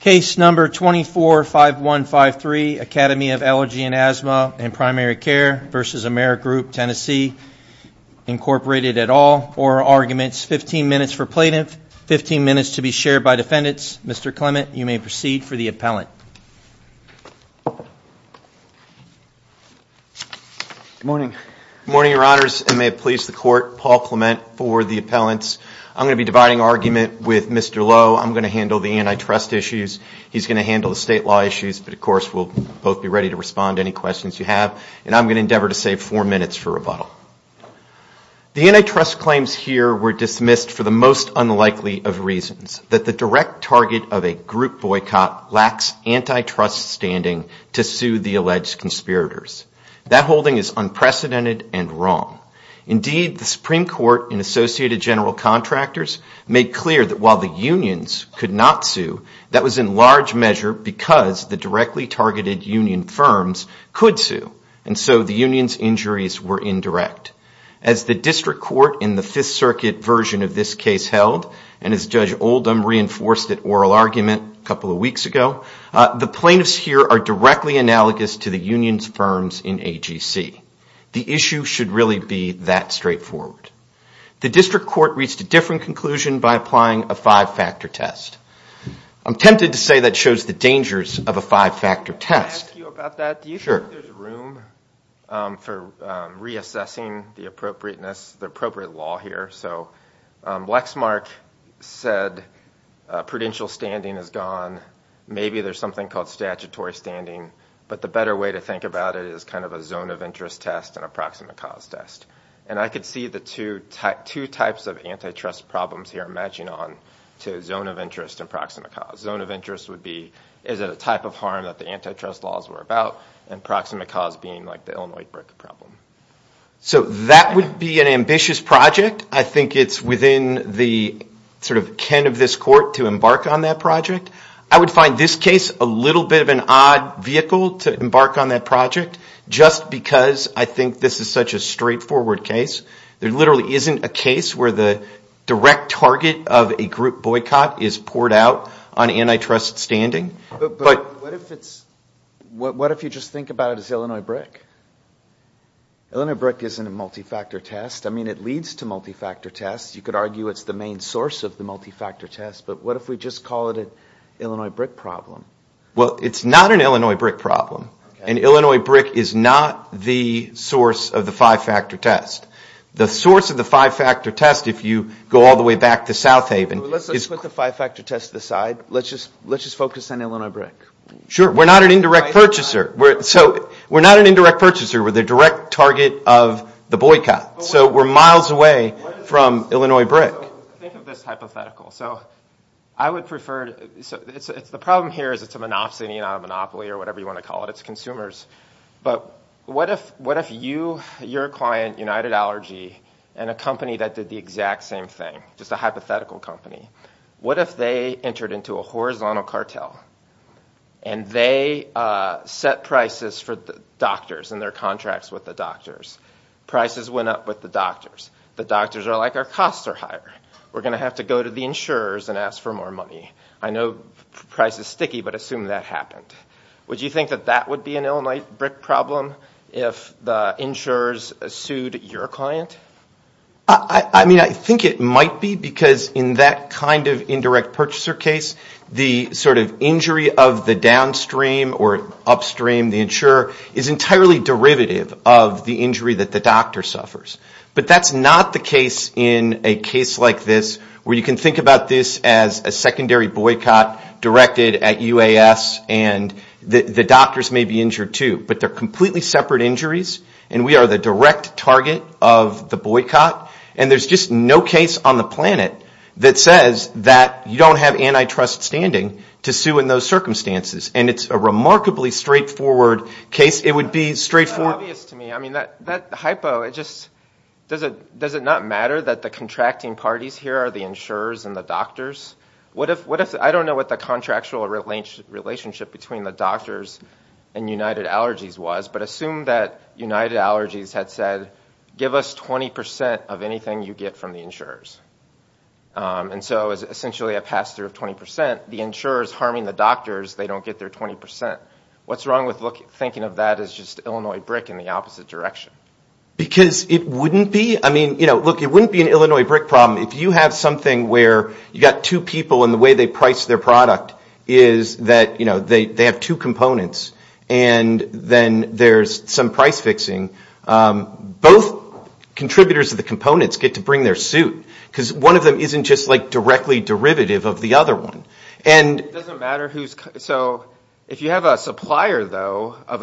Case number 24-5153 Academy of Allergy and Asthma and Primary Care v. Amerigroup Tennessee Incorporated et al. Oral Arguments. 15 minutes for plaintiff, 15 minutes to be shared by defendants. Mr. Clement, you may proceed for the appellant. Good morning. Good morning, your honors. It may please the court. Paul Clement for the appellants. I'm going to be dividing argument with Mr. Lowe. I'm going to handle the antitrust issues. He's going to handle the state law issues. But, of course, we'll both be ready to respond to any questions you have. And I'm going to endeavor to save four minutes for rebuttal. The antitrust claims here were dismissed for the most unlikely of reasons, that the direct target of a group boycott lacks antitrust standing to sue the alleged conspirators. That holding is unprecedented and wrong. Indeed, the Supreme Court and Associated General Contractors made clear that while the unions could not be sued, that was in large measure because the directly targeted union firms could sue. And so the union's injuries were indirect. As the district court in the Fifth Circuit version of this case held, and as Judge Oldham reinforced at Oral Argument a couple of weeks ago, the plaintiffs here are directly analogous to the union's firms in AGC. The issue should really be that straightforward. The district court reached a different conclusion by applying a five-factor test. I'm tempted to say that shows the dangers of a five-factor test. Do you think there's room for reassessing the appropriateness, the appropriate law here? So Wexmark said prudential standing is gone. Maybe there's something called statutory standing. But the better way to think about it is kind of a zone of interest test and approximate cause test. And I could see the two types of antitrust problems here matching on to zone of interest and approximate cause. Zone of interest would be, is it a type of harm that the antitrust laws were about? And approximate cause being like the Illinois brick problem. So that would be an ambitious project. I think it's within the sort of ken of this court to embark on that project. I would find this case a little bit of an odd vehicle to embark on that project just because I think this is such a straightforward case. There literally isn't a case where the direct target of a group boycott is poured out on antitrust standing. But what if it's, what if you just think about it as Illinois brick? Illinois brick isn't a multi-factor test. I mean it leads to multi-factor tests. You could argue it's the main source of the multi-factor test. But what if we just call it an Illinois brick problem? Well, it's not an Illinois brick problem. And Illinois brick is not the source of the five-factor test. The source of the five-factor test, if you go all the way back to South Haven... Let's just put the five-factor test to the side. Let's just focus on Illinois brick. Sure. We're not an indirect purchaser. We're not an indirect purchaser. We're the direct target of the boycott. So we're miles away from Illinois brick. Think of this hypothetical. So I would prefer, the problem here is it's a monopsony, not a monopoly or whatever you want to call it. It's consumers. But what if you, your client, United Allergy, and a company that did the exact same thing, just a hypothetical company. What if they entered into a horizontal cartel and they set prices for doctors and their contracts with the doctors? Prices went up with the doctors. The doctors are like, our costs are higher. We're going to have to go to the insurers and ask for more money. I know price is sticky, but assume that happened. Would you think that that would be an Illinois brick problem if the insurers sued your client? I mean, I think it might be because in that kind of indirect purchaser case, the sort of injury of the downstream or upstream, the insurer, is entirely derivative of the injury that the doctor suffers. But that's not the case in a case like this where you can think about this as a secondary boycott directed at UAS and the doctors may be injured too. But they're completely separate injuries and we are the direct target of the boycott. And there's just no case on the planet that says that you don't have antitrust standing to sue in those circumstances. And it's a remarkably straightforward case. It would be straightforward. It's obvious to me. I mean, that hypo, does it not matter that the contracting parties here are the insurers and the doctors? I don't know what the contractual relationship between the doctors and United Allergies was, but assume that United Allergies had said, give us 20% of anything you get from the insurers. And so it's essentially a pass-through of 20%. The insurers harming the doctors, they don't get their 20%. What's wrong with thinking of that as just Illinois brick in the opposite direction? Because it wouldn't be. I mean, look, it wouldn't be an Illinois brick problem. If you have something where you've got two people and the way they price their product is that they have two components and then there's some price fixing, both contributors to the components get to bring their suit. Because one of them isn't just directly derivative of the other one. So if you have a supplier, though, of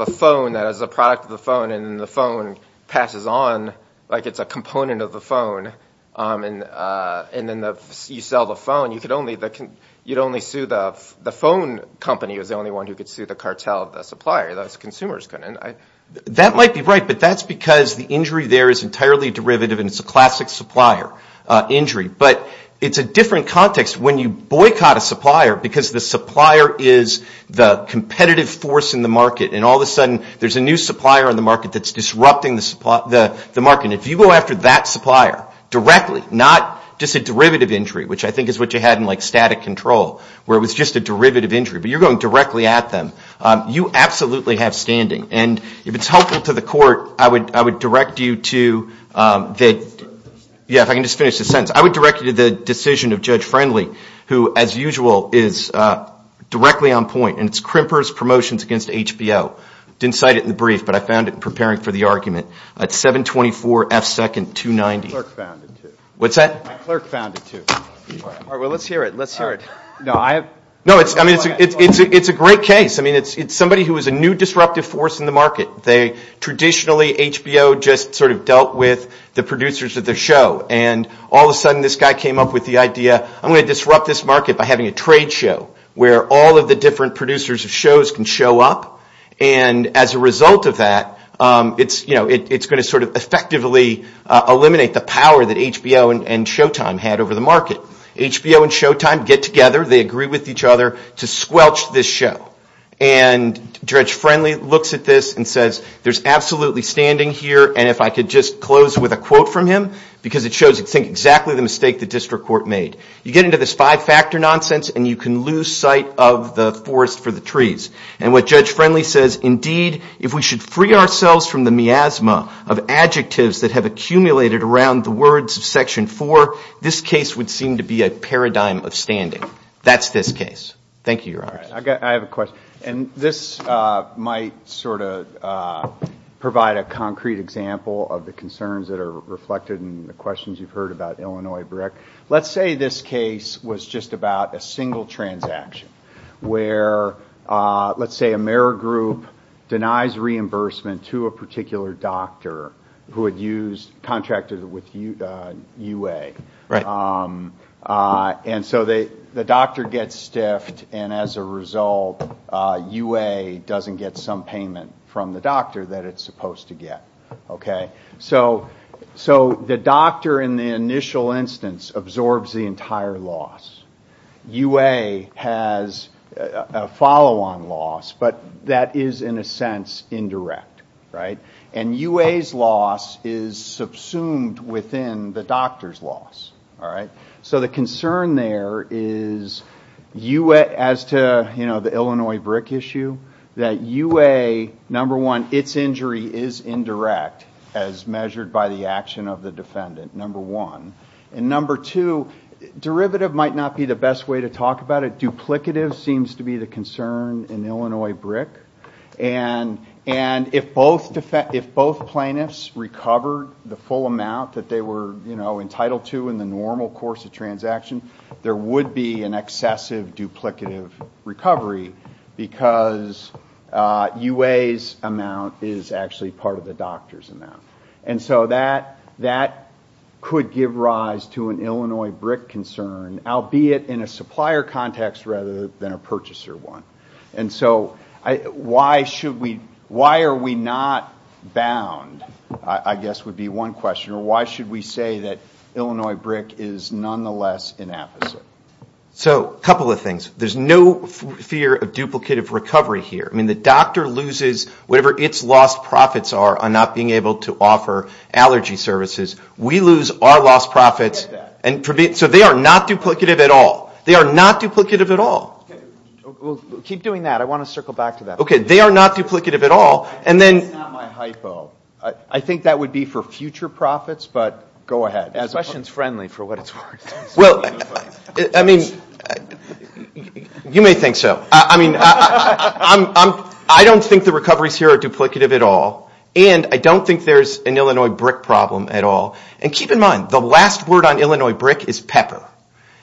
a phone that is a product of the phone and the phone passes on like it's a component of the phone and then you sell the phone, you'd only sue the phone company as the only one who could sue the cartel of the supplier. That might be right, but that's because the injury there is entirely derivative and it's a classic supplier injury. But it's a different context when you boycott a supplier because the supplier is the competitive force in the market. And all of a sudden there's a new supplier on the market that's disrupting the market. And if you go after that supplier directly, not just a derivative injury, which I think is what you had in like static control, where it was just a derivative injury. But you're going directly at them. You absolutely have standing. And if it's helpful to the court, I would direct you to the decision of Judge Friendly, who, as usual, is directly on point. And it's Krimper's promotions against HBO. Didn't cite it in the brief, but I found it in preparing for the argument. It's 724F290. It's a great case. It's somebody who is a new disruptive force in the market. Traditionally, HBO just sort of dealt with the producers of the show. And all of a sudden this guy came up with the idea, I'm going to disrupt this market by having a trade show where all of the different producers of shows can show up. And as a result of that, it's going to sort of effectively eliminate the power that HBO and Showtime had over the market. HBO and Showtime get together. They agree with each other to squelch this show. And Judge Friendly looks at this and says, there's absolutely standing here. And if I could just close with a quote from him, because it shows exactly the mistake the district court made. You get into this five-factor nonsense and you can lose sight of the forest for the trees. And what Judge Friendly says, indeed, if we should free ourselves from the miasma of adjectives that have accumulated around the words of Section 4, this case would seem to be a paradigm of standing. That's this case. Thank you, Your Honors. I have a question. And this might sort of provide a concrete example of the concerns that are reflected in the questions you've heard about Illinois brick. Let's say this case was just about a single transaction where, let's say, Amerigroup denies reimbursement to a particular doctor who had contracted with UA. And so the doctor gets stiffed. And as a result, UA doesn't get some payment from the doctor that it's supposed to get. So the doctor, in the initial instance, absorbs the entire loss. UA has a follow-on loss, but that is, in a sense, indirect. And UA's loss is subsumed within the doctor's loss. So the concern there is, as to the Illinois brick issue, that UA, number one, its injury is indirect. As measured by the action of the defendant, number one. And number two, derivative might not be the best way to talk about it. Duplicative seems to be the concern in Illinois brick. And if both plaintiffs recovered the full amount that they were entitled to in the normal course of transaction, there would be an excessive duplicative recovery because UA's amount is actually part of the doctor's loss. And so that could give rise to an Illinois brick concern, albeit in a supplier context rather than a purchaser one. And so why are we not bound, I guess would be one question, or why should we say that Illinois brick is nonetheless inefficient? So a couple of things. There's no fear of duplicative recovery here. I mean, the doctor loses whatever its lost profits are on not being able to recover. Not being able to offer allergy services. We lose our lost profits. So they are not duplicative at all. They are not duplicative at all. Okay. We'll keep doing that. I want to circle back to that. Okay. They are not duplicative at all. That's not my hypo. I think that would be for future profits, but go ahead. The question is friendly for what it's worth. Well, I mean, you may think so. I mean, I don't think the recoveries here are duplicative at all. And I don't think there's an Illinois brick problem at all. And keep in mind, the last word on Illinois brick is pepper.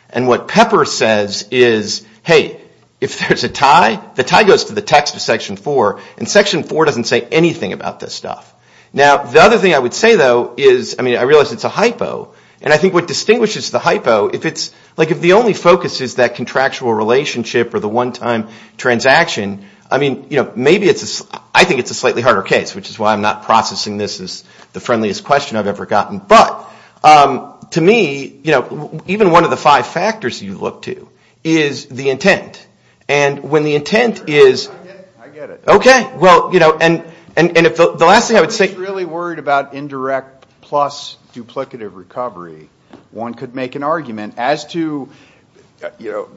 And what pepper says is, hey, if there's a tie, the tie goes to the text of Section 4, and Section 4 doesn't say anything about this stuff. Now, the other thing I would say, though, is, I mean, I realize it's a hypo. And I think what distinguishes the hypo, if it's, like, if the only focus is that contractual relationship or the one-time transaction, I mean, you know, maybe it's, I think it's a slightly harder case, which is why I'm not processing this as the friendliest question I've ever gotten. But to me, you know, even one of the five factors you look to is the intent. And when the intent is... And the last thing I would say... If you're really worried about indirect plus duplicative recovery, one could make an argument as to, you know,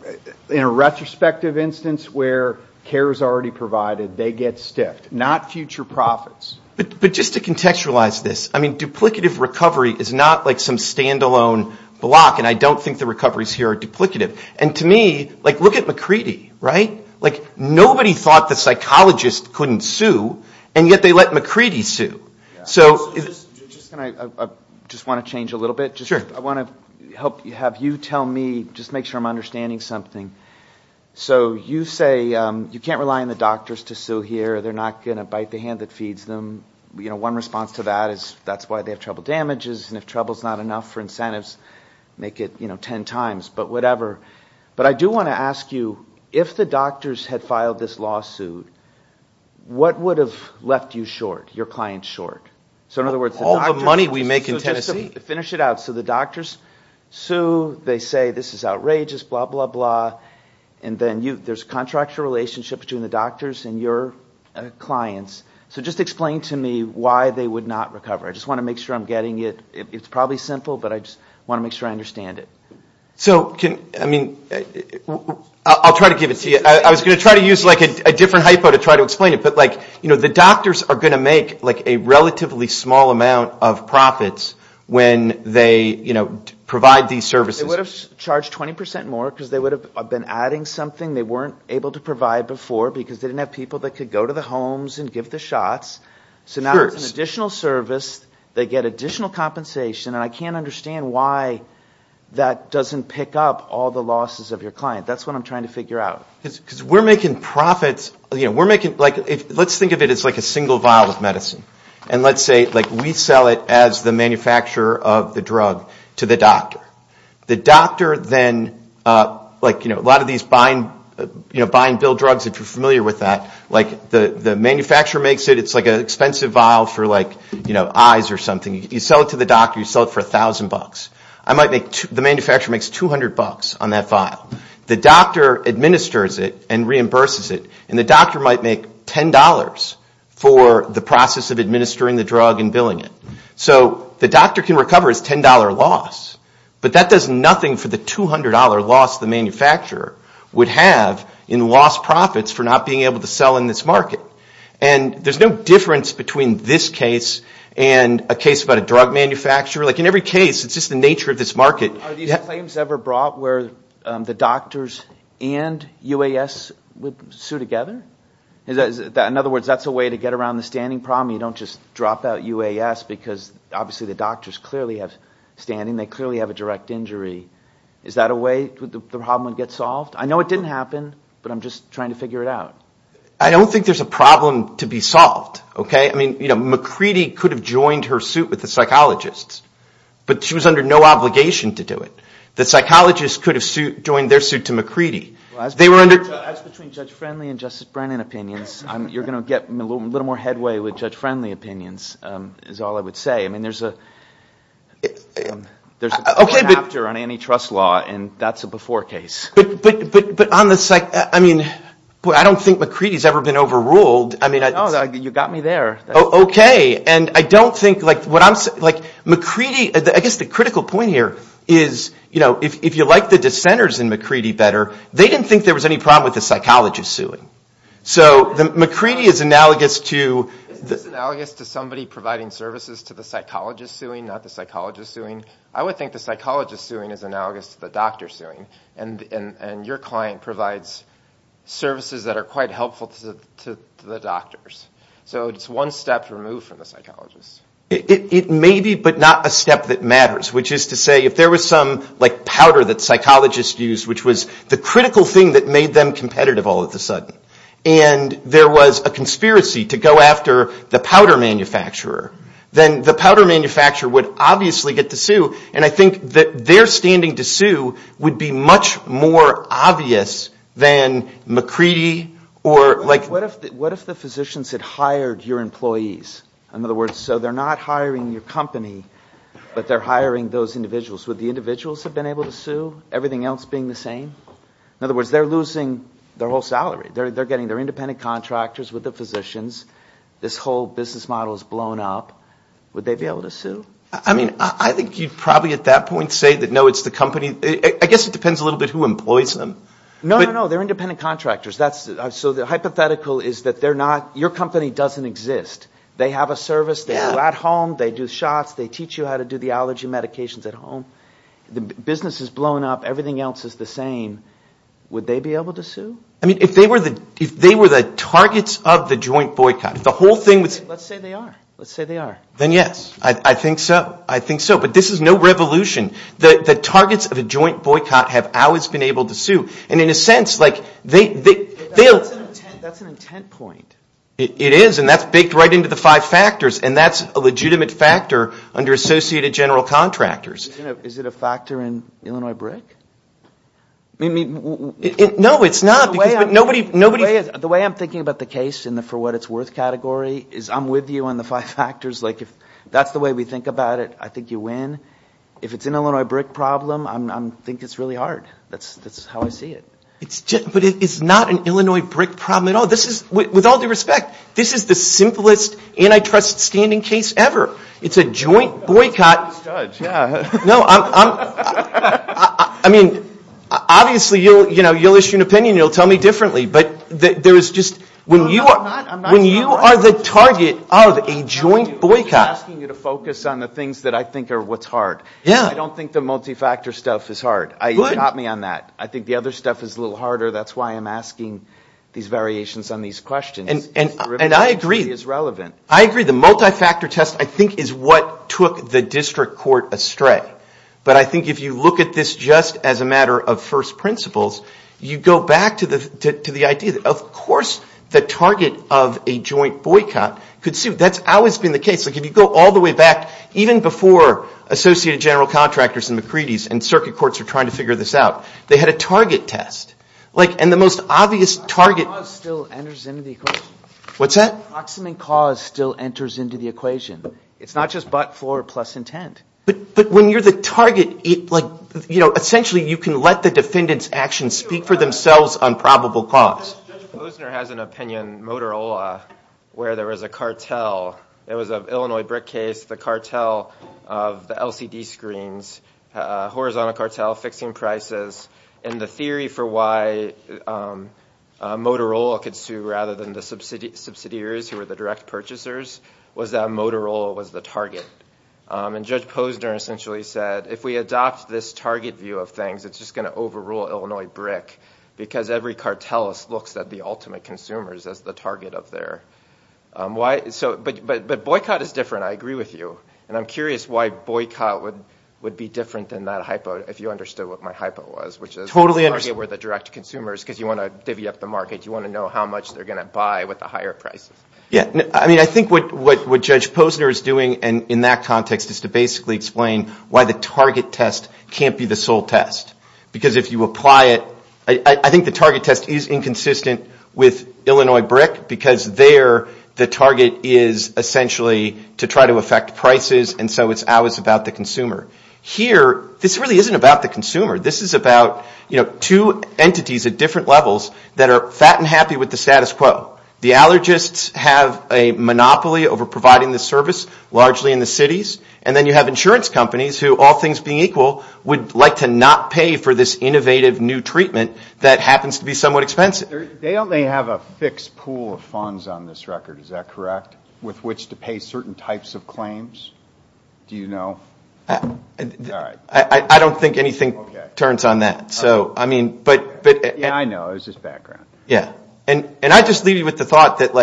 in a retrospective instance where care is already provided, they get stiffed, not future profits. But just to contextualize this, I mean, duplicative recovery is not, like, some standalone block. And I don't think the recoveries here are duplicative. And to me, like, look at McCready, right? Like, nobody thought the psychologist couldn't sue, and yet they let McCready sue. So... Just want to change a little bit. I want to have you tell me, just make sure I'm understanding something. So you say you can't rely on the doctors to sue here, they're not going to bite the hand that feeds them. You know, one response to that is that's why they have trouble damages, and if trouble's not enough for incentives, make it, you know, 10 times, but whatever. But I do want to ask you, if the doctors had filed this lawsuit, what would have left you short, your clients short? So in other words... All the money we make in Tennessee. So just finish it out. So the doctors sue, they say this is outrageous, blah, blah, blah. And then there's a contractual relationship between the doctors and your clients. So just explain to me why they would not recover. I just want to make sure I'm getting it. It's probably simple, but I just want to make sure I understand it. So can, I mean, I'll try to give it to you. I was going to try to use, like, a different hypo to try to explain it. But, like, you know, the doctors are going to make, like, a relatively small amount of profits when they, you know, provide these services. They would have charged 20% more, because they would have been adding something they weren't able to provide before, because they didn't have people that could go to the homes and give them money. So now it's an additional service. They get additional compensation. And I can't understand why that doesn't pick up all the losses of your client. That's what I'm trying to figure out. Because we're making profits, you know, we're making, like, let's think of it as, like, a single vial of medicine. And let's say, like, we sell it as the manufacturer of the drug to the doctor. The doctor then, like, you know, a lot of these buy and build drugs, if you're familiar with that. Like, the manufacturer makes it. It's, like, an expensive vial for, like, you know, eyes or something. You sell it to the doctor. You sell it for 1,000 bucks. The manufacturer makes 200 bucks on that vial. The doctor administers it and reimburses it. And the doctor might make $10 for the process of administering the drug and billing it. So the doctor can recover his $10 loss. But that does nothing for the $200 loss the manufacturer would have in lost profits for not being able to sell in this market. And there's no difference between this case and a case about a drug manufacturer. Like, in every case, it's just the nature of this market. Are these claims ever brought where the doctors and UAS would sue together? In other words, that's a way to get around the standing problem. You don't just drop out UAS because, obviously, the doctors clearly have standing. They clearly have a direct injury. Is that a way the problem would get solved? I know it didn't happen, but I'm just trying to figure it out. I don't think there's a problem to be solved, okay? I mean, McCready could have joined her suit with the psychologists. But she was under no obligation to do it. The psychologists could have joined their suit to McCready. As between Judge Friendly and Justice Brennan opinions, you're going to get a little more headway with Judge Friendly opinions, is all I would say. I mean, there's a chapter on antitrust law, and that's a before case. But I don't think McCready's ever been overruled. No, you got me there. I guess the critical point here is, if you like the dissenters in McCready better, they didn't think there was any problem with the psychologists suing. Is this analogous to somebody providing services to the psychologists suing, not the psychologists suing? I would think the psychologists suing is analogous to the doctors suing. And your client provides services that are quite helpful to the doctors. So it's one step removed from the psychologists. It may be, but not a step that matters. Which is to say, if there was some powder that psychologists used, which was the critical thing that made them competitive all of a sudden, and there was a conspiracy to go after the powder manufacturer, then the powder manufacturer would obviously get to sue. And I think that their standing to sue would be much more obvious than McCready or like... What if the physicians had hired your employees? In other words, so they're not hiring your company, but they're hiring those individuals. Would the individuals have been able to sue, everything else being the same? In other words, they're losing their whole salary. They're getting their independent contractors with the physicians. This whole business model is blown up. Would they be able to sue? I mean, I think you'd probably at that point say, no, it's the company. I guess it depends a little bit who employs them. No, no, no, they're independent contractors. So the hypothetical is that they're not, your company doesn't exist. They have a service, they do at home, they do shots, they teach you how to do the allergy medications at home. The business is blown up, everything else is the same, would they be able to sue? I mean, if they were the targets of the joint boycott, if the whole thing was... Let's say they are, let's say they are. Then yes, I think so, I think so, but this is no revolution. The targets of a joint boycott have always been able to sue. And in a sense, they'll... That's an intent point. It is, and that's baked right into the five factors, and that's a legitimate factor under associated general contractors. Is it a factor in Illinois BRIC? No, it's not. The way I'm thinking about the case for what it's worth category is I'm with you on the five factors. If that's the way we think about it, I think you win. If it's an Illinois BRIC problem, I think it's really hard. That's how I see it. But it's not an Illinois BRIC problem at all. With all due respect, this is the simplest antitrust standing case ever. It's a joint boycott. Obviously you'll issue an opinion, you'll tell me differently, but there's just... When you are the target of a joint boycott... I'm asking you to focus on the things that I think are what's hard. I don't think the multi-factor stuff is hard. You caught me on that. I think the other stuff is a little harder. That's why I'm asking these variations on these questions. I agree. The multi-factor test I think is what took the district court astray. But I think if you look at this just as a matter of first principles, you go back to the idea that of course the target of a joint boycott could suit. That's always been the case. Like if you go all the way back, even before associated general contractors and circuit courts were trying to figure this out, they had a target test. Proximate cause still enters into the equation. It's not just butt floor plus intent. But when you're the target, essentially you can let the defendant's actions speak for themselves on probable cause. Judge Posner has an opinion, Motorola, where there was a cartel. It was an Illinois brick case, the cartel of the LCD screens, horizontal cartel, fixing prices, and the theory for why Motorola could sue rather than the subsidiaries who were the direct purchasers was that Motorola was the target. And Judge Posner essentially said if we adopt this target view of things, it's just going to overrule Illinois brick because every cartelist looks at the ultimate consumers as the target of their. But boycott is different, I agree with you. And I'm curious why boycott would be different than that hypo, if you understood what my hypo was. Totally understand. I think what Judge Posner is doing in that context is to basically explain why the target test can't be the sole test. Because if you apply it, I think the target test is inconsistent with Illinois brick because they are the sole test. Here the target is essentially to try to affect prices and so it's always about the consumer. Here, this really isn't about the consumer. This is about two entities at different levels that are fat and happy with the status quo. The allergists have a monopoly over providing the service, largely in the cities. And then you have insurance companies who, all things being equal, would like to not pay for this innovative new treatment that happens to be somewhat expensive. They only have a fixed pool of funds on this record, is that correct? With which to pay certain types of claims? Do you know? I don't think anything turns on that. Yeah, I know, it was just background. And I just leave you with the thought that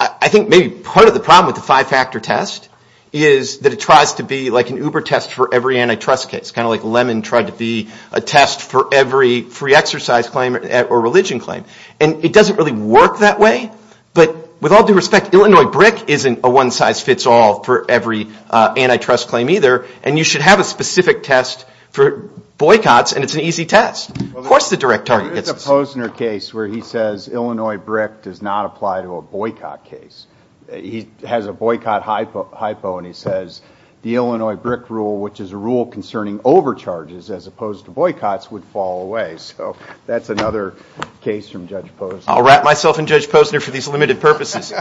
I think maybe part of the problem with the five factor test is that it tries to be like an Uber test for every antitrust case. It's kind of like Lemon tried to be a test for every free exercise claim or religion claim. And it doesn't really work that way. But with all due respect, Illinois brick isn't a one size fits all for every antitrust claim either. And you should have a specific test for boycotts and it's an easy test. Of course the direct target test. I'll wrap myself in Judge Posner for these limited purposes.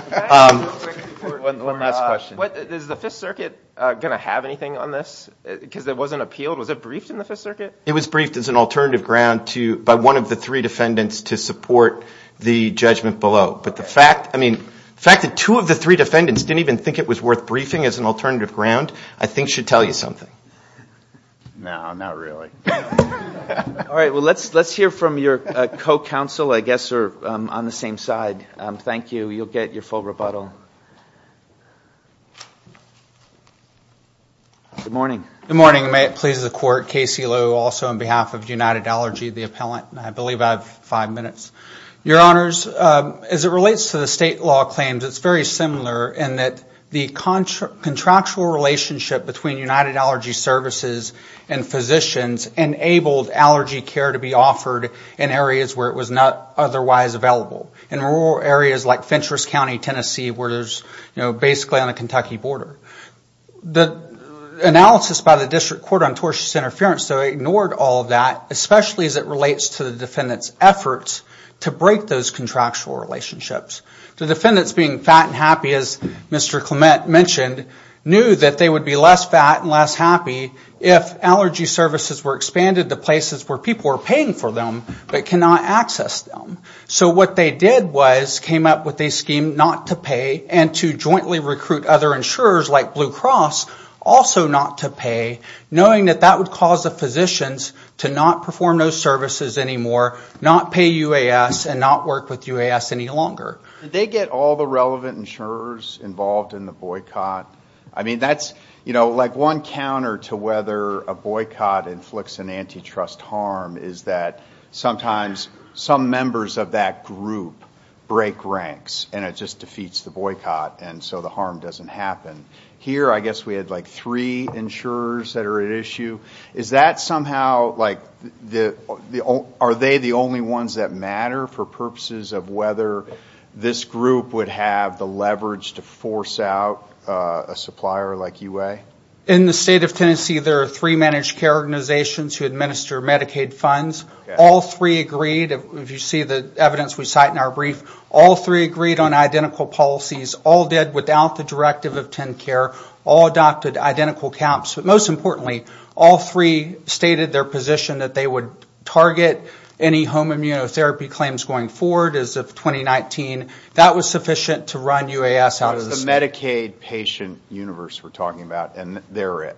Is the Fifth Circuit going to have anything on this? Because it wasn't appealed? Was it briefed in the Fifth Circuit? It was briefed as an alternative ground by one of the three defendants to support the judgment below. But the fact that two of the three defendants didn't even think it was worth briefing as an alternative ground I think should tell you something. No, not really. All right, well let's hear from your co-counsel I guess are on the same side. Thank you, you'll get your full rebuttal. Good morning. As it relates to the state law claims, it's very similar in that the contractual relationship between United Allergy Services and physicians enabled allergy care to be offered in areas where it was not otherwise available. In rural areas like Fentress County, Tennessee where there's basically on the Kentucky border. The analysis by the District Court on tortious interference ignored all of that, especially as it relates to the defendant's efforts to break those contractual relationships. The defendants being fat and happy, as Mr. Clement mentioned, knew that they would be less fat and less happy if allergy services were expanded to places where people are paying for them but cannot access them. So what they did was came up with a scheme not to pay and to jointly recruit other insurers like Blue Cross, also not to pay, knowing that that would cause the physicians to not perform those services anymore, not pay UAS and not work with UAS any longer. Did they get all the relevant insurers involved in the boycott? I mean, that's, you know, like one counter to whether a boycott inflicts an antitrust harm is that sometimes some members of the insurance community are not aware of it. Sometimes members of that group break ranks and it just defeats the boycott and so the harm doesn't happen. Here, I guess we had like three insurers that are at issue. Is that somehow like, are they the only ones that matter for purposes of whether this group would have the leverage to force out a supplier like UA? In the state of Tennessee, there are three managed care organizations who administer Medicaid funds. All three agreed, if you see the evidence we cite in our brief, all three agreed on identical policies, all did without the directive of TennCare, all adopted identical caps. But most importantly, all three stated their position that they would target any home immunotherapy claims going forward as of 2019. That was sufficient to run UAS out of the state. That's the Medicaid patient universe we're talking about, and they're it.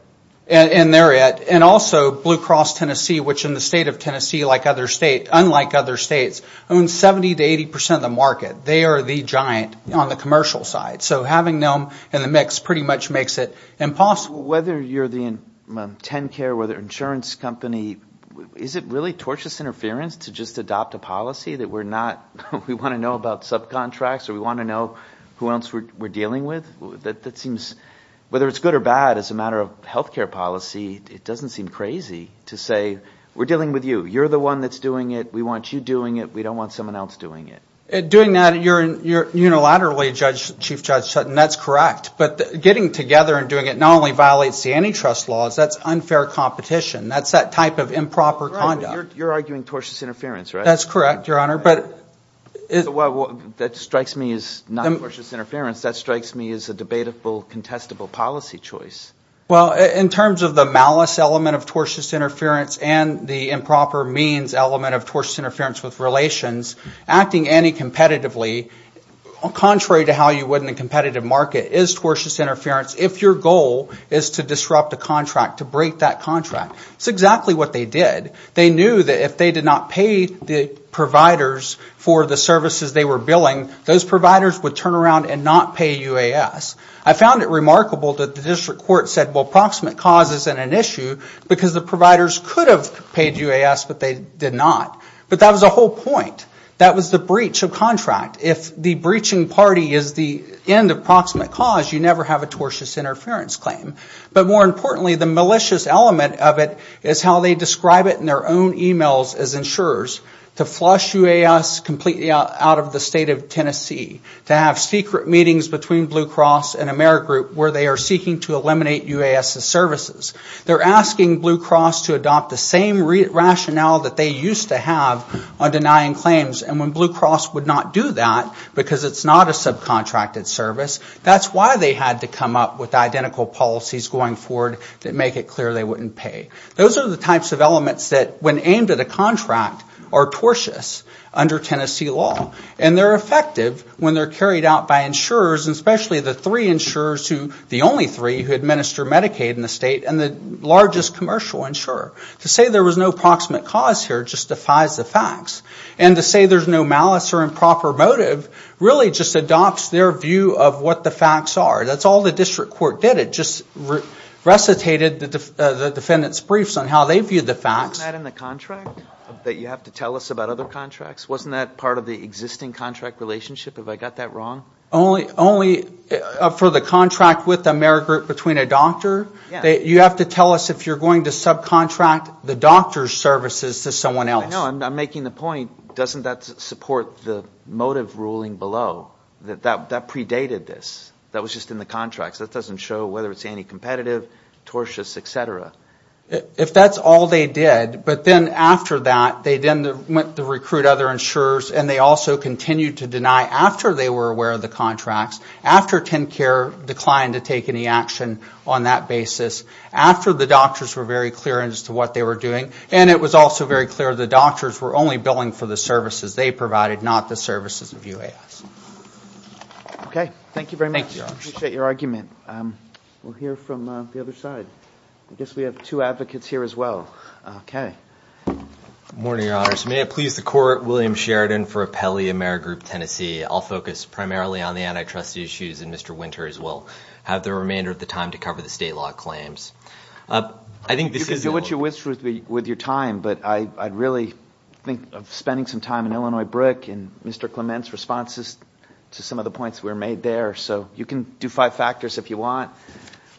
And they're it. And also, Blue Cross Tennessee, which in the state of Tennessee, like other states, unlike other states, owns 70 to 80% of the market. They are the giant on the commercial side. So having them in the mix pretty much makes it impossible. So whether you're the TennCare, whether insurance company, is it really tortious interference to just adopt a policy that we're not, we want to know about subcontracts or we want to know who else we're dealing with? That seems, whether it's good or bad as a matter of healthcare policy, it doesn't seem crazy to say, we're dealing with you. You're the one that's doing it. We want you doing it. We don't want someone else doing it. Doing that, you're unilaterally, Chief Judge Sutton, that's correct. But getting together and doing it not only violates the antitrust laws, that's unfair competition. That's that type of improper conduct. You're arguing tortious interference, right? That's correct, Your Honor. Well, that strikes me as not tortious interference. That strikes me as a debatable, contestable policy choice. Well, in terms of the malice element of tortious interference and the improper means element of tortious interference with relations, acting anti-competitively, contrary to how you would in a competitive market, is tortious interference if your goal is to disrupt a contract, to break that contract. That's exactly what they did. They knew that if they did not pay the providers for the services they were billing, those providers would turn around and not pay UAS. I found it remarkable that the district court said, well, proximate cause isn't an issue, because the providers could have paid UAS, but they did not. But that was the whole point. That was the breach of contract. If the breaching party is the end of proximate cause, you never have a tortious interference claim. But more importantly, the malicious element of it is how they describe it in their own e-mails as insurers, to flush UAS completely out of the state of Tennessee, to have secret meetings between Blue Cross and Amerigroup where they are seeking to eliminate UAS's services. They're asking Blue Cross to adopt the same rationale that they used to have on denying claims. And when Blue Cross would not do that, because it's not a subcontracted service, that's why they had to come up with identical policies going forward that make it clear they wouldn't pay. Those are the types of elements that, when aimed at a contract, are tortious under Tennessee law. And they're effective when they're carried out by insurers, especially the three insurers, the only three who administer Medicaid in the state, and the largest commercial insurer. To say there was no proximate cause here just defies the facts. And to say there's no malice or improper motive really just adopts their view of what the facts are. That's all the district court did. It just recitated the defendant's briefs on how they viewed the facts. Only for the contract with Amerigroup between a doctor. You have to tell us if you're going to subcontract the doctor's services to someone else. No, I'm making the point, doesn't that support the motive ruling below? That predated this. That was just in the contracts. That doesn't show whether it's anti-competitive, tortious, et cetera. If that's all they did, but then after that, they then went to recruit other insurers, and they also continued to deny after they were aware of the contracts, after TennCare declined to take any action on that basis, after the doctors were very clear as to what they were doing, and it was also very clear the doctors were only billing for the services they provided, not the services of UAS. Okay, thank you very much. We have two advocates here as well. May it please the court, William Sheridan for Apelli Amerigroup Tennessee. I'll focus primarily on the antitrust issues, and Mr. Winters will have the remainder of the time to cover the state law claims. You can do what you wish with your time, but I'd really think of spending some time in Illinois BRIC and Mr. Clement's responses to some of the points that were made there. So you can do five factors if you want.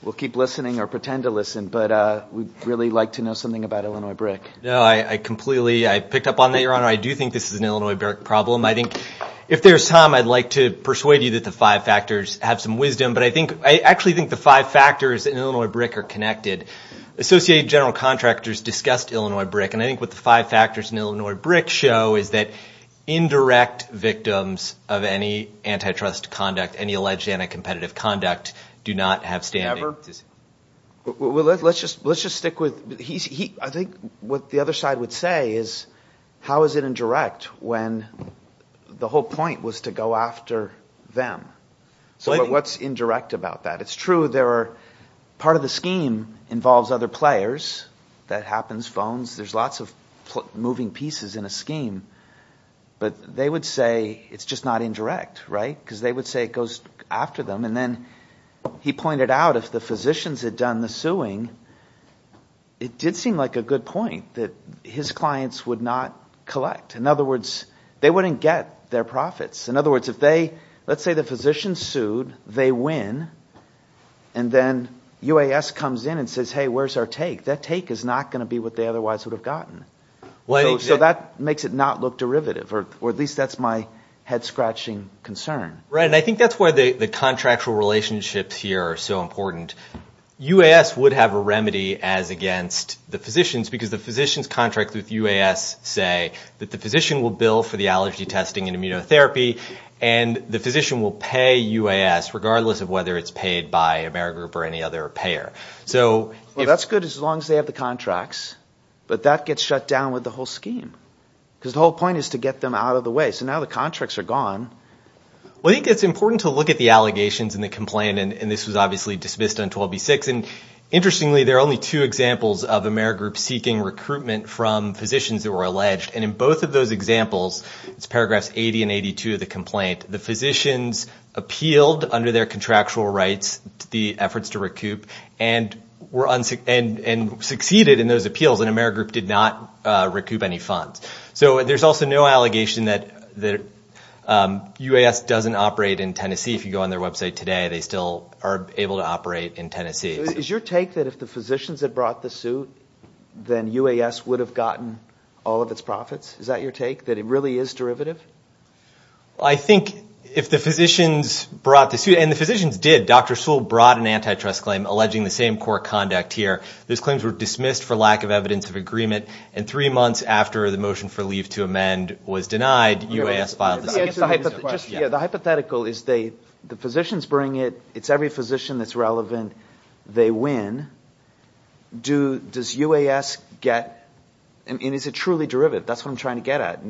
We'll keep listening or pretend to listen, but we'd really like to know something about Illinois BRIC. No, I completely, I picked up on that, Your Honor. I do think this is an Illinois BRIC problem. I think if there's time, I'd like to persuade you that the five factors have some wisdom, but I actually think the five factors in Illinois BRIC are connected. Associate General Contractors discussed Illinois BRIC, and I think what the five factors in Illinois BRIC show is that indirect victims of any antitrust conduct, any alleged anti-competitive conduct, do not have standing. Let's just stick with, I think what the other side would say is, how is it indirect when the whole point was to go after them? So what's indirect about that? It's true, part of the scheme involves other players, that happens, phones, there's lots of moving pieces in a scheme, but they would say it's just not indirect, right? Because they would say it goes after them, and then he pointed out if the physicians had done the suing, it did seem like a good point that his clients would not collect. In other words, they wouldn't get their profits. In other words, if they, let's say the physicians sued, they win, and then UAS comes in and says, hey, where's our take? That take is not going to be what they otherwise would have gotten. So that makes it not look derivative, or at least that's my head scratching concern. Right, and I think that's why the contractual relationships here are so important. UAS would have a remedy as against the physicians, because the physicians contract with UAS say that the physician will bill for the allergy testing and immunotherapy, and the physician will pay UAS, regardless of whether it's paid by Amerigroup or any other payer. Well, that's good as long as they have the contracts, but that gets shut down with the whole scheme, because the whole point is to get them out of the way. So now the contracts are gone. Well, I think it's important to look at the allegations and the complaint, and this was obviously dismissed on 12b-6. And interestingly, there are only two examples of Amerigroup seeking recruitment from physicians that were alleged. And in both of those examples, it's paragraphs 80 and 82 of the complaint, the physicians appealed under their contractual rights the efforts to recoup and succeeded in those appeals, and Amerigroup did not recoup any funds. So there's also no allegation that UAS doesn't operate in Tennessee. If you go on their website today, they still are able to operate in Tennessee. Is your take that if the physicians had brought the suit, then UAS would have gotten all of its profits? Is that your take, that it really is derivative? I think if the physicians brought the suit, and the physicians did, Dr. Sewell brought an antitrust claim alleging the same court conduct here. Those claims were dismissed for lack of evidence of agreement, and three months after the motion for leave to amend was denied, UAS filed a second suit. The hypothetical is the physicians bring it, it's every physician that's relevant, they win. Does UAS get, and is it truly derivative? That's what I'm trying to get at.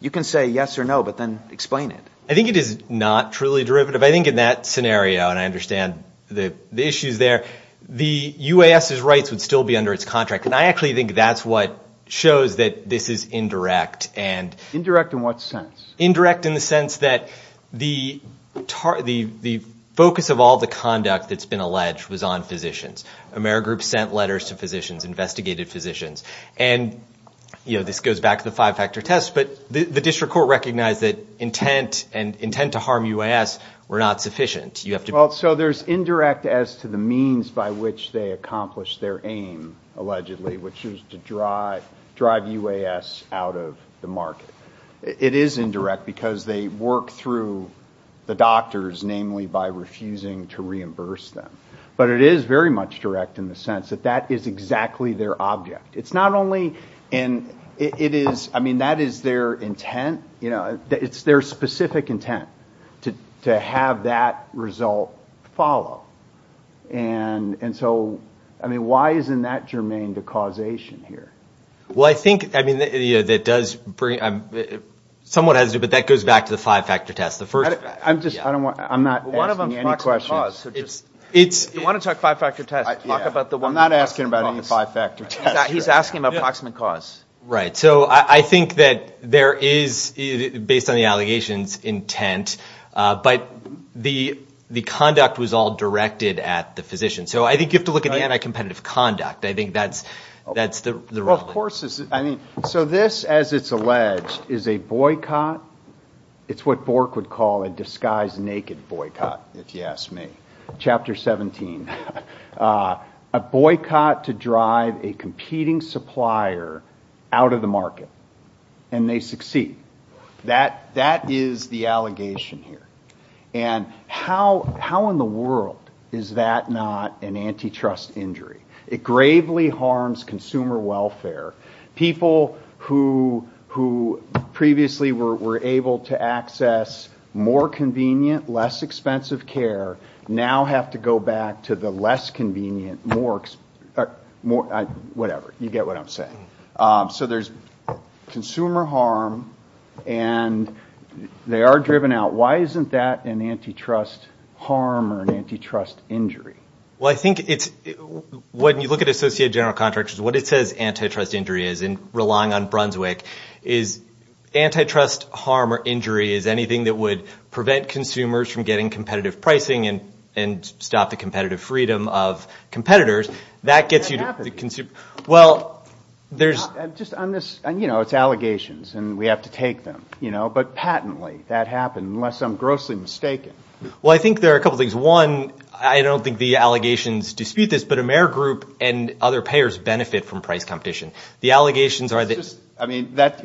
You can say yes or no, but then explain it. I think it is not truly derivative. I think in that scenario, and I understand the issues there, the UAS's rights would still be under its contract, and I actually think that's what shows that this is indirect. Indirect in what sense? Indirect in the sense that the focus of all the conduct that's been alleged was on physicians. Amerigroup sent letters to physicians, investigated physicians, and this goes back to the five-factor test, but the district court recognized that intent and intent to harm UAS were not sufficient. So there's indirect as to the means by which they accomplish their aim, allegedly, which is to drive UAS out of the market. It is indirect because they work through the doctors, namely by refusing to reimburse them. But it is very much direct in the sense that that is exactly their object. It's not only, and that is their intent, it's their specific intent to have that result follow. And so why isn't that germane to causation here? Well, I think that does bring, somewhat has to do, but that goes back to the five-factor test. I'm not asking any questions. You want to talk five-factor test, talk about the one... I'm not asking about any five-factor test. He's asking about proximate cause. Right, so I think that there is, based on the allegations, intent, but the conduct was all directed at the physician. So I think you have to look at the anti-competitive conduct. I think that's the... So this, as it's alleged, is a boycott, it's what Bork would call a disguised naked boycott, if you ask me. Chapter 17, a boycott to drive a competing supplier out of the market, and they succeed. That is the allegation here. And how in the world is that not an antitrust injury? It gravely harms consumer welfare. People who previously were able to access more convenient, less expensive care, now have to go back to the less convenient, whatever, you get what I'm saying. So there's consumer harm, and they are driven out. Why isn't that an antitrust harm or an antitrust injury? When you look at Associated General Contractors, what it says antitrust injury is, and relying on Brunswick, is antitrust harm or injury is anything that would prevent consumers from getting competitive pricing and stop the competitive freedom of competitors. Well, there's... But patently, that happened, unless I'm grossly mistaken. I don't think the allegations dispute this, but Amerigroup and other payers benefit from price competition. You're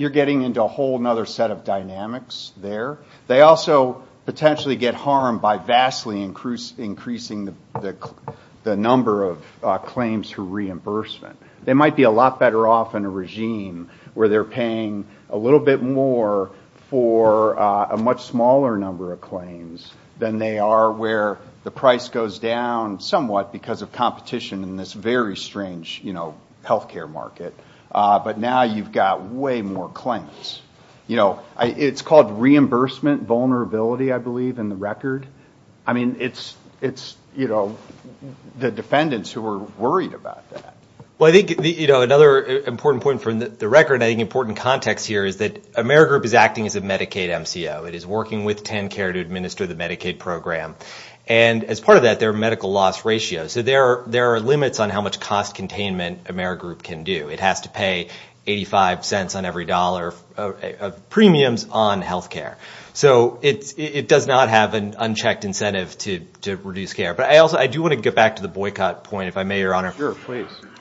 getting into a whole other set of dynamics there. They also potentially get harmed by vastly increasing the number of claims for reimbursement. They might be a lot better off in a regime where they're paying a little bit more for a much smaller number of claims than they are where the price goes down somewhat because of competition in this very strange healthcare market. But now you've got way more claims. It's called reimbursement vulnerability, I believe, in the record. I mean, it's the defendants who are worried about that. Well, I think another important point from the record, an important context here is that Amerigroup is acting as a Medicaid MCO. It is working with TenCare to administer the Medicaid program. And as part of that, their medical loss ratio. So there are limits on how much cost containment Amerigroup can do. It has to pay 85 cents on every dollar of premiums on healthcare. So it does not have an unchecked incentive to reduce care. But I do want to get back to the boycott point, if I may, Your Honor.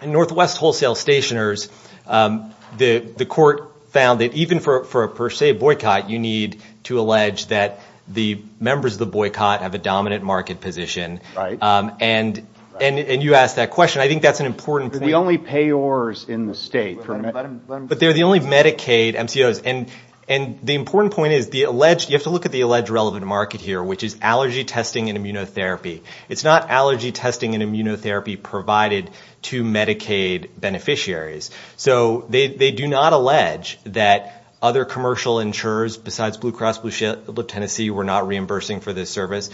In Northwest Wholesale Stationers, the court found that even for a per se boycott, you need to allege that the members of the boycott have a dominant market position. And you asked that question. I think that's an important point. But they're the only Medicaid MCOs. And the important point is, you have to look at the alleged relevant market here, which is allergy testing and immunotherapy. It's not allergy testing and immunotherapy provided to Medicaid beneficiaries. So they do not allege that other commercial insurers besides Blue Cross Blue Shield of Tennessee were not reimbursing for this service.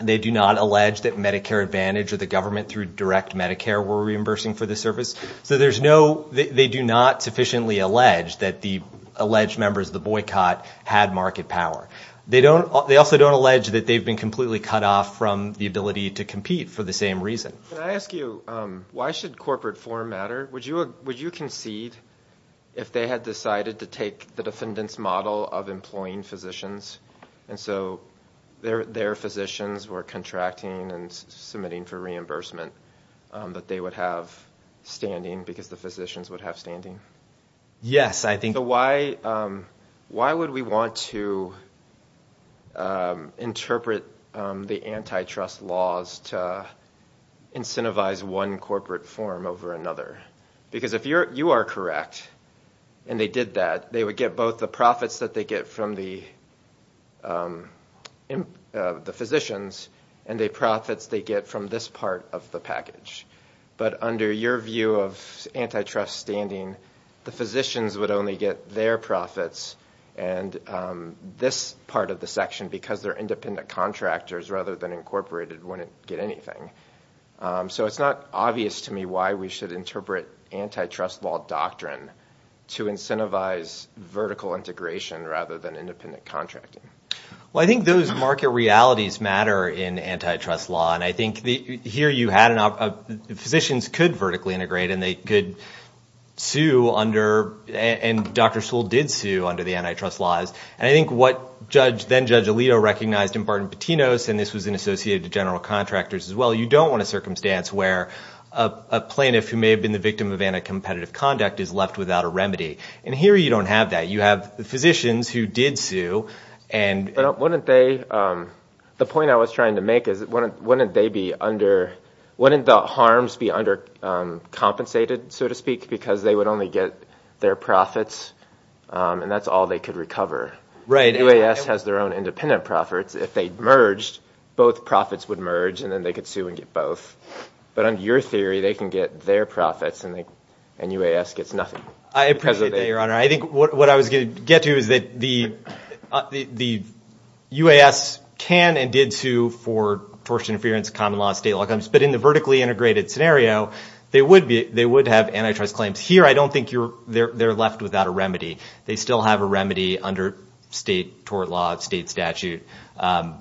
They do not allege that Medicare Advantage or the government through direct Medicare were reimbursing for this service. So they do not sufficiently allege that the alleged members of the boycott had market power. They also don't allege that they've been completely cut off from the ability to compete for the same reason. Can I ask you, why should corporate form matter? Would you concede if they had decided to take the defendant's model of employing physicians and so their physicians were contracting and submitting for reimbursement that they would have standing because the physicians would have standing? Yes, I think so. Why would we want to interpret the antitrust laws to incentivize one corporate form over another? Because if you are correct and they did that, they would get both the profits that they get from the physicians and the profits they get from this part of the package. But under your view of antitrust standing, the physicians would only get their profits and this part of the section because they're independent contractors rather than incorporated wouldn't get anything. So it's not obvious to me why we should interpret antitrust law doctrine to incentivize vertical integration rather than independent contracting. Well, I think those market realities matter in antitrust law. And I think here you had physicians could vertically integrate and they could sue under and Dr. Sewell did sue under the antitrust laws. And I think what then Judge Alito recognized in Barton Patino's and this was in associated to general contractors as well, you don't want a circumstance where a plaintiff who may have been the victim of anti-competitive conduct is left without a remedy. And here you don't have that. You have the physicians who did sue. But the point I was trying to make is wouldn't they be under wouldn't the harms be under compensated, so to speak, because they would only get their profits and that's all they could recover. UAS has their own independent profits. If they merged, both profits would merge and then they could sue and get both. But under your theory, they can get their profits and UAS gets nothing. I appreciate that, Your Honor. I think what I was going to get to is that the UAS can and did sue for tort interference, common law, state law, but in the vertically integrated scenario, they would have antitrust claims. Here I don't think they're left without a remedy. They still have a remedy under state tort law, state statute. And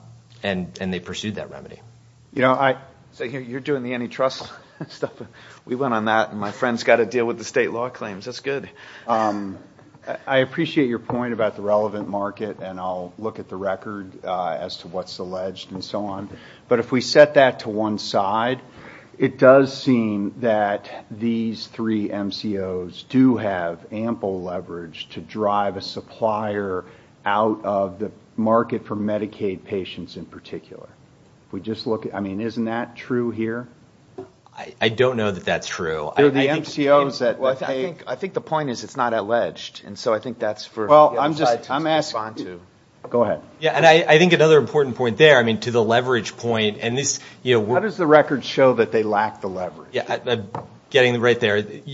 they pursued that remedy. You're doing the antitrust stuff. We went on that and my friend's got to deal with the state law claims. That's good. I appreciate your point about the relevant market and I'll look at the record as to what's alleged and so on. But if we set that to one side, it does seem that these three MCOs do have ample leverage to drive a supplier out of the market for Medicaid patients in particular. Isn't that true here? I don't know that that's true. I think the point is it's not alleged. Go ahead. How does the record show that they lack the leverage?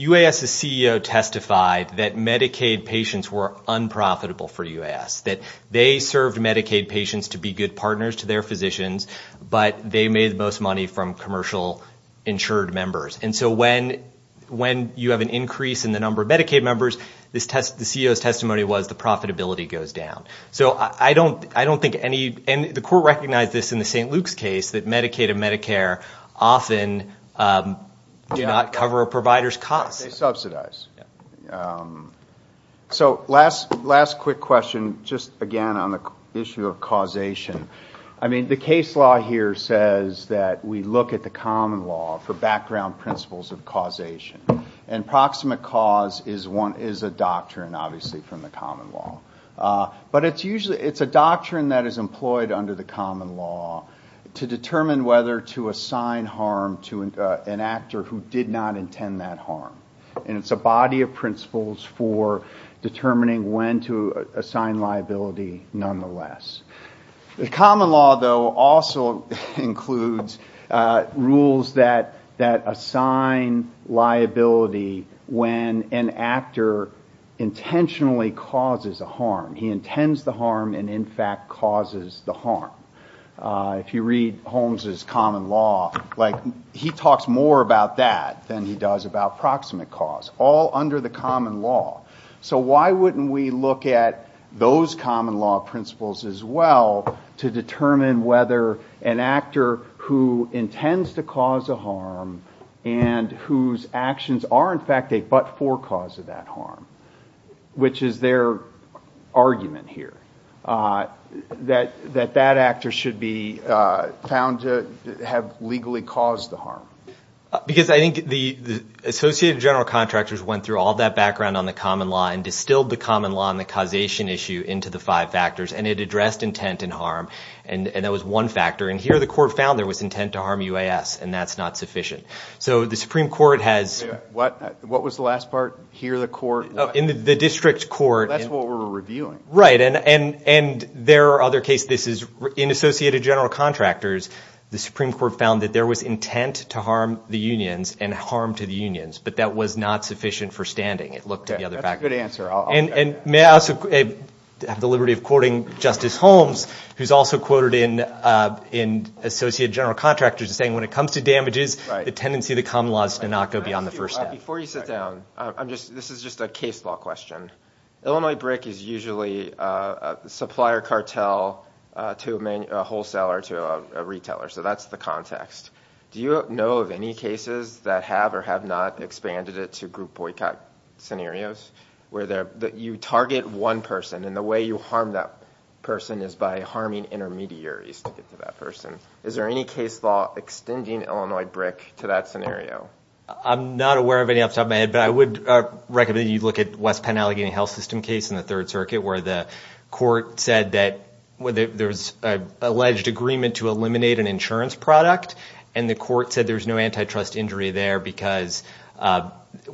UAS's CEO testified that Medicaid patients were unprofitable for UAS, that they served Medicaid patients to be good partners to their physicians, but they made the most money from commercial insured members. And so when you have an increase in the number of Medicaid members, the CEO's testimony was the profitability goes down. So I don't think any, and the court recognized this in the St. Luke's case, that Medicaid and Medicare often do not cover a provider's costs. They subsidize. So last quick question, just again on the issue of causation. The case law here says that we look at the common law for background principles of causation. And proximate cause is a doctrine obviously from the common law. But it's a doctrine that is employed under the common law to determine whether to assign harm to an actor who did not intend that harm. And it's a body of principles for determining when to assign liability nonetheless. The common law though also includes rules that assign liability when an actor intentionally causes a harm. He intends the harm and in fact causes the harm. If you read Holmes's common law, he talks more about that than he does about proximate cause. All under the common law. So why wouldn't we look at those common law principles as well to determine whether an actor who intends to cause a harm and whose actions are in fact a but-for cause of that harm, which is their argument here. That that actor should be found to have legally caused the harm. Because I think the associated general contractors went through all that background on the common law and distilled the common law and the causation issue into the five factors and it addressed intent and harm. And that was one factor. And here the court found there was intent to harm UAS and that's not sufficient. So the Supreme Court has... What was the last part? Hear the court? In the district court. That's what we're reviewing. Right. And there are other cases. In associated general contractors, the Supreme Court found that there was intent to harm the unions and harm to the unions, but that was not sufficient for standing. And may I also have the liberty of quoting Justice Holmes, who's also quoted in associated general contractors saying when it comes to damages, the tendency of the common law is to not go beyond the first step. Before you sit down, this is just a case law question. Illinois BRIC is usually a supplier cartel to a wholesaler, to a retailer. So that's the context. Do you know of any cases that have or have not expanded it to group boycott scenarios where you target one person and the way you harm that person is by harming intermediaries to get to that person? Is there any case law extending Illinois BRIC to that scenario? I'm not aware of any off the top of my head, but I would recommend you look at West Penn Allegheny Health System case in the Third Circuit, where the court said that there was an alleged agreement to eliminate an insurance product, and the court said there was no antitrust injury there because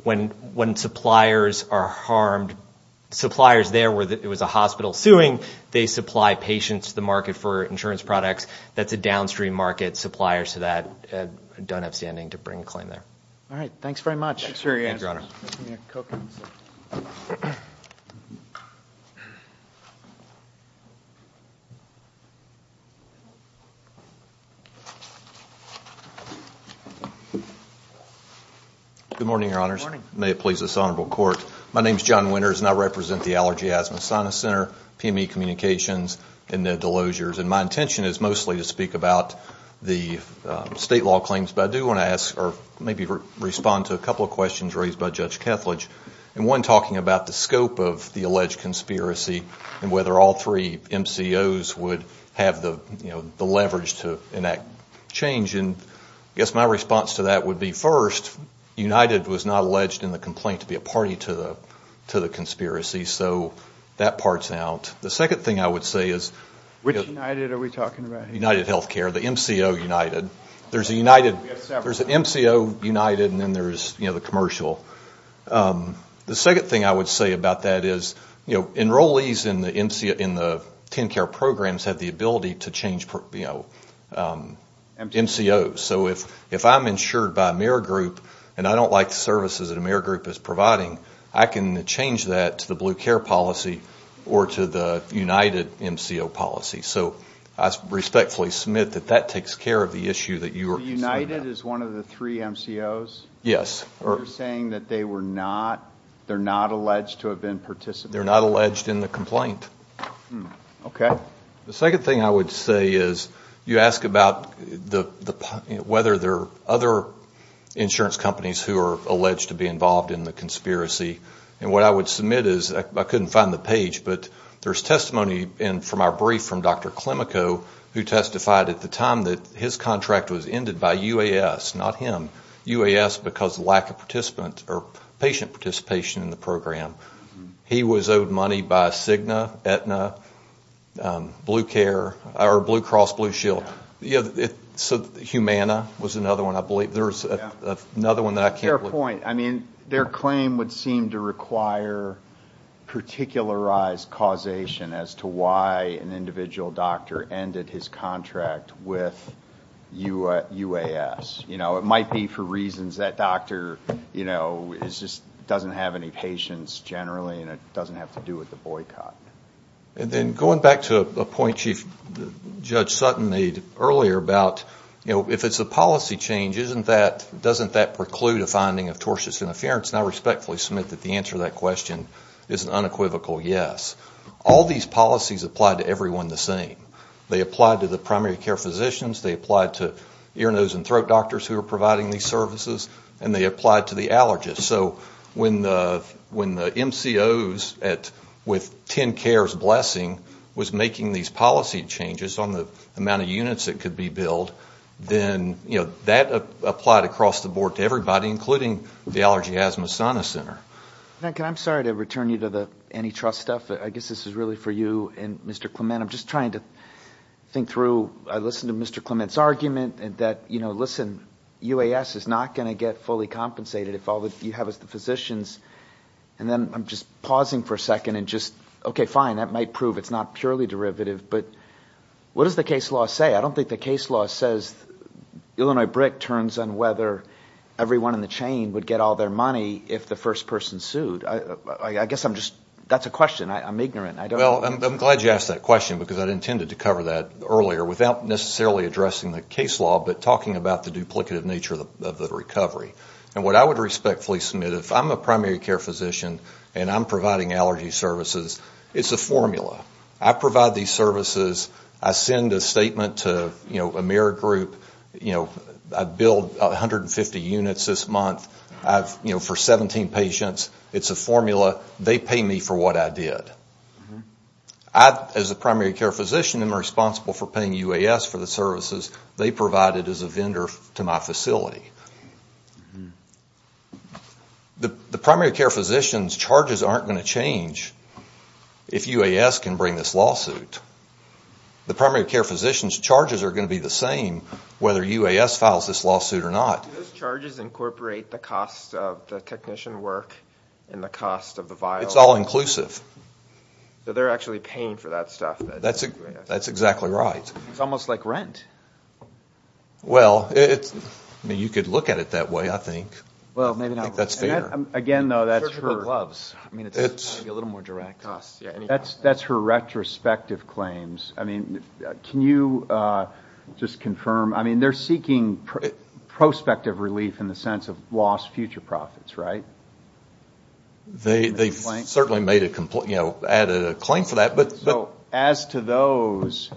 when suppliers are harmed, suppliers there where it was a hospital suing, they supply patients to the market for insurance products. That's a downstream market supplier, so that don't have standing to bring a claim there. All right. Thanks very much. Good morning, Your Honors. May it please this honorable court. My name is John Winters, and I represent the Allergy Asthma and Sinus Center, PME Communications, and the Delosiers, and my intention is mostly to speak about the state law claims, but I do want to ask or maybe respond to a couple of questions raised by Judge Kethledge, and one talking about the scope of the alleged conspiracy and whether all three MCOs would have the leverage to enact change. And I guess my response to that would be, first, United was not alleged in the complaint to be a party to the conspiracy, so that part's out. The second thing I would say is... Which United are we talking about here? United Healthcare, the MCO United. There's an MCO United, and then there's the commercial. The second thing I would say about that is, enrollees in the TennCare programs have the ability to change MCOs. So if I'm insured by Amerigroup and I don't like the services that Amerigroup is providing, I can change that to the Blue Care policy or to the United MCO policy. So I respectfully submit that that takes care of the issue that you were concerned about. So United is one of the three MCOs? Yes. You're saying that they're not alleged to have been participating? They're not alleged in the complaint. Okay. The second thing I would say is, you ask about whether there are other insurance companies who are alleged to be involved in the conspiracy. And what I would submit is, I couldn't find the page, but there's testimony from our brief from Dr. Klimico, who testified at the time that his contract was ended by UAS, not him. UAS because of lack of patient participation in the program. He was owed money by Cigna, Aetna, Blue Cross Blue Shield. Humana was another one, I believe. Their claim would seem to require particularized causation as to why an individual doctor ended his contract with UAS. It might be for reasons that doctor doesn't have any patients generally and it doesn't have to do with the boycott. And then going back to a point Chief Judge Sutton made earlier about, if it's a policy change, doesn't that preclude a finding of tortious interference? And I respectfully submit that the answer to that question is an unequivocal yes. All these policies apply to everyone the same. There are doctors who are providing these services and they apply to the allergist. So when the MCOs with 10 cares blessing was making these policy changes on the amount of units that could be billed, then that applied across the board to everybody, including the Allergy Asthma Center. I'm sorry to return you to the antitrust stuff, but I guess this is really for you and Mr. Clement. I'm just trying to think through, I listened to Mr. Clement's argument that, listen, UAS is not going to get fully compensated if all you have is the physicians. And then I'm just pausing for a second and just, okay, fine, that might prove it's not purely derivative. But what does the case law say? I don't think the case law says Illinois BRIC turns on whether everyone in the chain would get all their money if the first person sued. I guess I'm just, that's a question, I'm ignorant. Well, I'm glad you asked that question because I intended to cover that earlier without necessarily addressing the case law, but talking about the duplicative nature of the recovery. And what I would respectfully submit, if I'm a primary care physician and I'm providing allergy services, it's a formula. I provide these services. I send a statement to Amerigroup. I billed 150 units this month for 17 patients. It's a formula. They pay me for what I did. As a primary care physician, I'm responsible for paying UAS for the services they provided as a vendor to my facility. The primary care physician's charges aren't going to change if UAS can bring this lawsuit. The primary care physician's charges are going to be the same whether UAS files this lawsuit or not. Do those charges incorporate the cost of the technician work and the cost of the vial? It's all inclusive. So they're actually paying for that stuff. That's exactly right. It's almost like rent. Well, you could look at it that way, I think. That's fair. They're seeking prospective relief in the sense of lost future profits, right? They've certainly made a claim for that. As to those,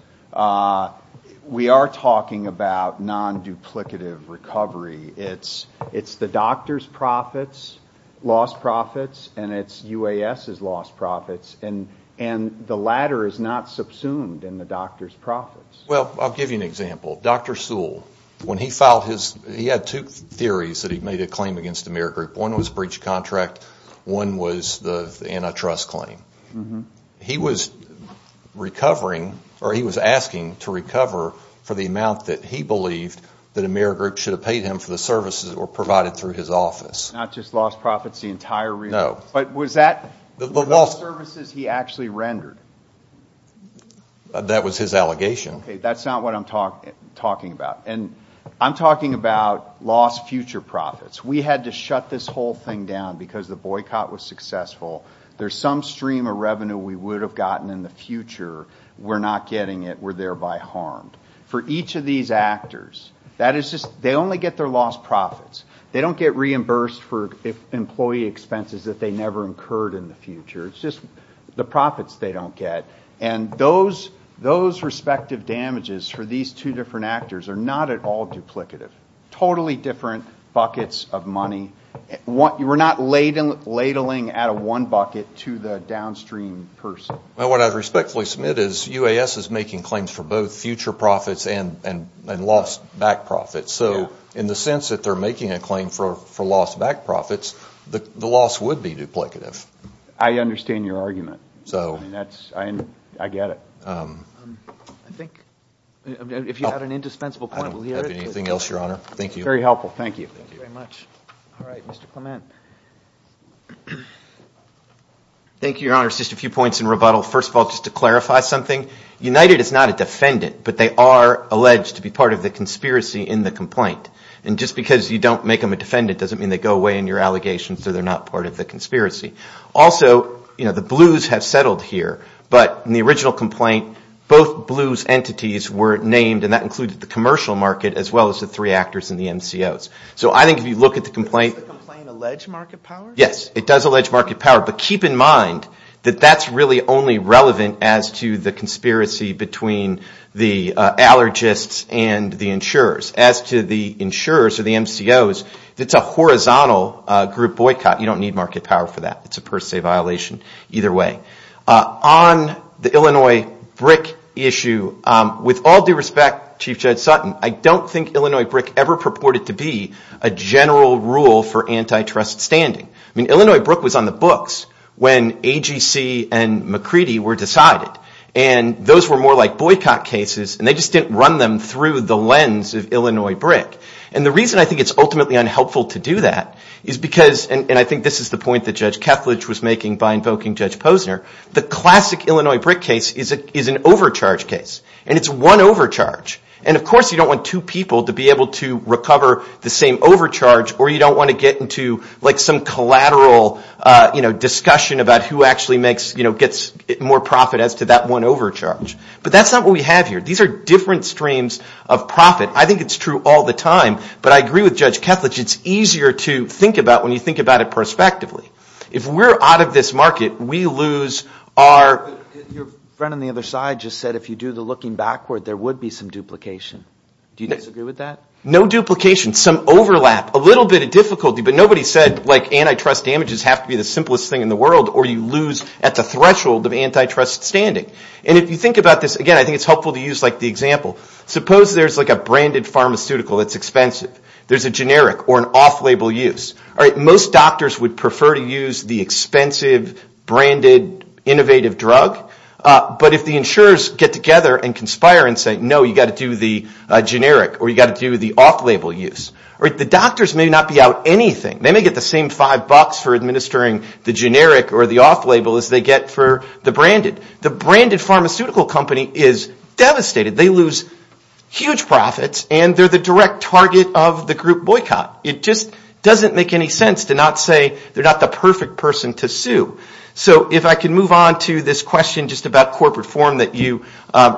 we are talking about non-duplicative recovery. It's the doctor's profits, lost profits, and it's UAS's lost profits. The latter is not subsumed in the doctor's profits. Well, I'll give you an example. Dr. Sewell, he had two theories that he made a claim against Amerigroup. One was breach of contract, one was the antitrust claim. He was asking to recover for the amount that he believed that Amerigroup should have paid him for the services that were provided through his office. Not just lost profits, the entire relief. That was his allegation. We had to shut this whole thing down because the boycott was successful. For each of these actors, they only get their lost profits. It's not just for employee expenses that they never incurred in the future. It's just the profits they don't get. Those respective damages for these two different actors are not at all duplicative. Totally different buckets of money. We're not ladling out of one bucket to the downstream person. What I respectfully submit is UAS is making claims for both future profits and lost back profits. In the sense that they're making a claim for lost back profits, the loss would be duplicative. I understand your argument. If you had an indispensable point, we'll hear it. Thank you. Just a few points in rebuttal. United is not a defendant, but they are alleged to be part of the conspiracy in the complaint. Just because you don't make them a defendant doesn't mean they go away in your allegations. Also, the Blues have settled here. In the original complaint, both Blues entities were named, and that included the commercial market as well as the three actors and the MCOs. Does the complaint allege market power? Yes, it does allege market power, but keep in mind that that's really only relevant as to the conspiracy between the allergists and the insurers. As to the insurers or the MCOs, it's a horizontal group boycott. You don't need market power for that. On the Illinois BRIC issue, with all due respect, I don't think Illinois BRIC ever purported to be a general rule for antitrust standing. Illinois BRIC was on the books when AGC and McCready were decided. Those were more like boycott cases, and they just didn't run them through the lens of Illinois BRIC. And the reason I think it's ultimately unhelpful to do that is because, and I think this is the point that Judge Kethledge was making by invoking Judge Posner, the classic Illinois BRIC case is an overcharge case, and it's one overcharge. And of course you don't want two people to be able to recover the same overcharge, or you don't want to get into some collateral discussion about who actually gets more profit as to that one overcharge. But that's not what we have here. These are different streams of profit. I think it's true all the time, but I agree with Judge Kethledge. It's easier to think about when you think about it prospectively. If we're out of this market, we lose our... I think it's helpful to use the example. Suppose there's a branded pharmaceutical that's expensive. There's a generic or an off-label use. Most doctors would prefer to use the expensive, branded, innovative drug. But if the insurers get together and conspire and say, no, you've got to do the generic or you've got to do the off-label use. The doctors may not be out anything. They may get the same five bucks for administering the generic or the off-label as they get for the branded. The branded pharmaceutical company is devastated. They lose huge profits, and they're the direct target of the group boycott. It just doesn't make any sense to not say they're not the perfect person to sue. So if I can move on to this question just about corporate form that you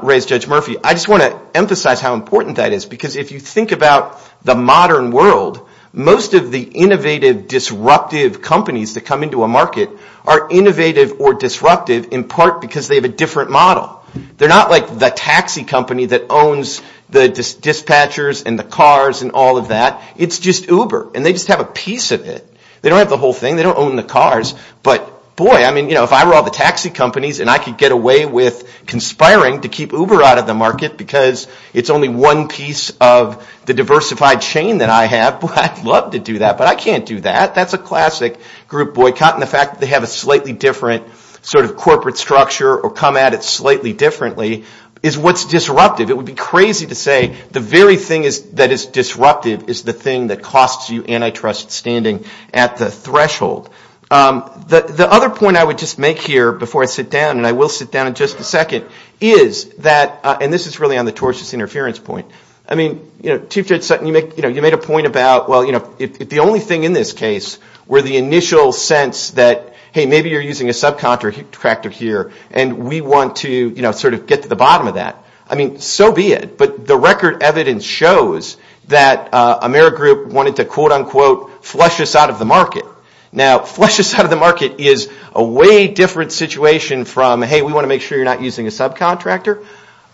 raised, Judge Murphy. I just want to emphasize how important that is, because if you think about the modern world, most of the innovative, disruptive companies that come into a market are innovative or disruptive, in part because they have a different model. They're not like the taxi company that owns the dispatchers and the cars and all of that. It's just Uber, and they just have a piece of it. They don't have the whole thing. They don't own the cars. But boy, if I were all the taxi companies and I could get away with conspiring to keep Uber out of the market, because it's only one piece of the diversified chain that I have, I'd love to do that. But I can't do that. That's a classic group boycott. And the fact that they have a slightly different sort of corporate structure or come at it slightly differently is what's disruptive. It would be crazy to say the very thing that is disruptive is the thing that costs you antitrust standing at the threshold. The other point I would just make here before I sit down, and I will sit down in just a second, is that, and this is really on the tortious interference point. I mean, Chief Judge Sutton, you made a point about, well, if the only thing in this case were the initial sense that, hey, maybe you're using a subcontractor here, and we want to sort of get to the bottom of that, I mean, so be it. But the record evidence shows that Amerigroup wanted to quote, unquote, flush us out of the market. Now, flush us out of the market is a way different situation from, hey, we want to make sure you're not using a subcontractor.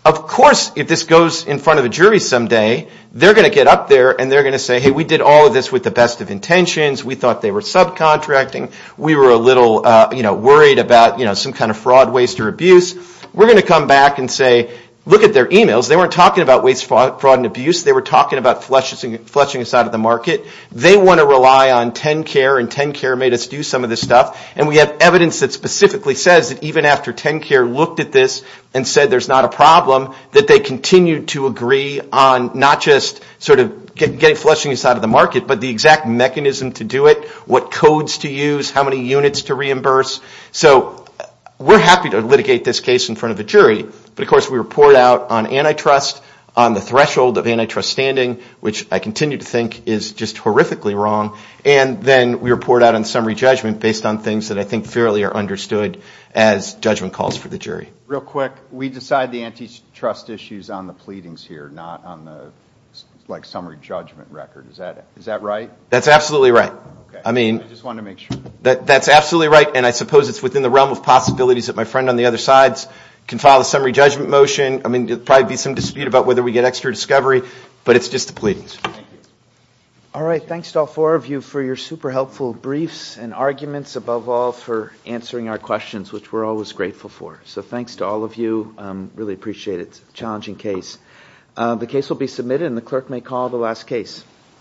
Of course, if this goes in front of a jury someday, they're going to get up there and they're going to say, hey, we did all of this with the best of intentions. We thought they were subcontracting. We were a little worried about some kind of fraud, waste, or abuse. We're going to come back and say, look at their emails. They weren't talking about waste, fraud, and abuse. They were talking about flushing us out of the market. They want to rely on TenCare, and TenCare made us do some of this stuff. And we have evidence that specifically says that even after TenCare looked at this and said there's not a problem, that they continue to agree on not just sort of getting flushing us out of the market, but the exact mechanism to do it, what codes to use, how many units to reimburse. So we're happy to litigate this case in front of a jury, but of course we report out on antitrust, on the threshold of antitrust standing, which I continue to think is just horrifically wrong. And then we report out on summary judgment based on things that I think fairly are understood as judgment calls for the jury. Real quick, we decide the antitrust issues on the pleadings here, not on the summary judgment record. Is that right? That's absolutely right. And I suppose it's within the realm of possibilities that my friend on the other side can file a summary judgment motion. There will probably be some dispute about whether we get extra discovery, but it's just the pleadings. All right, thanks to all four of you for your super helpful briefs and arguments. Above all, for answering our questions, which we're always grateful for. So thanks to all of you. Really appreciate it. It's a challenging case. The case will be submitted and the clerk may call the last case.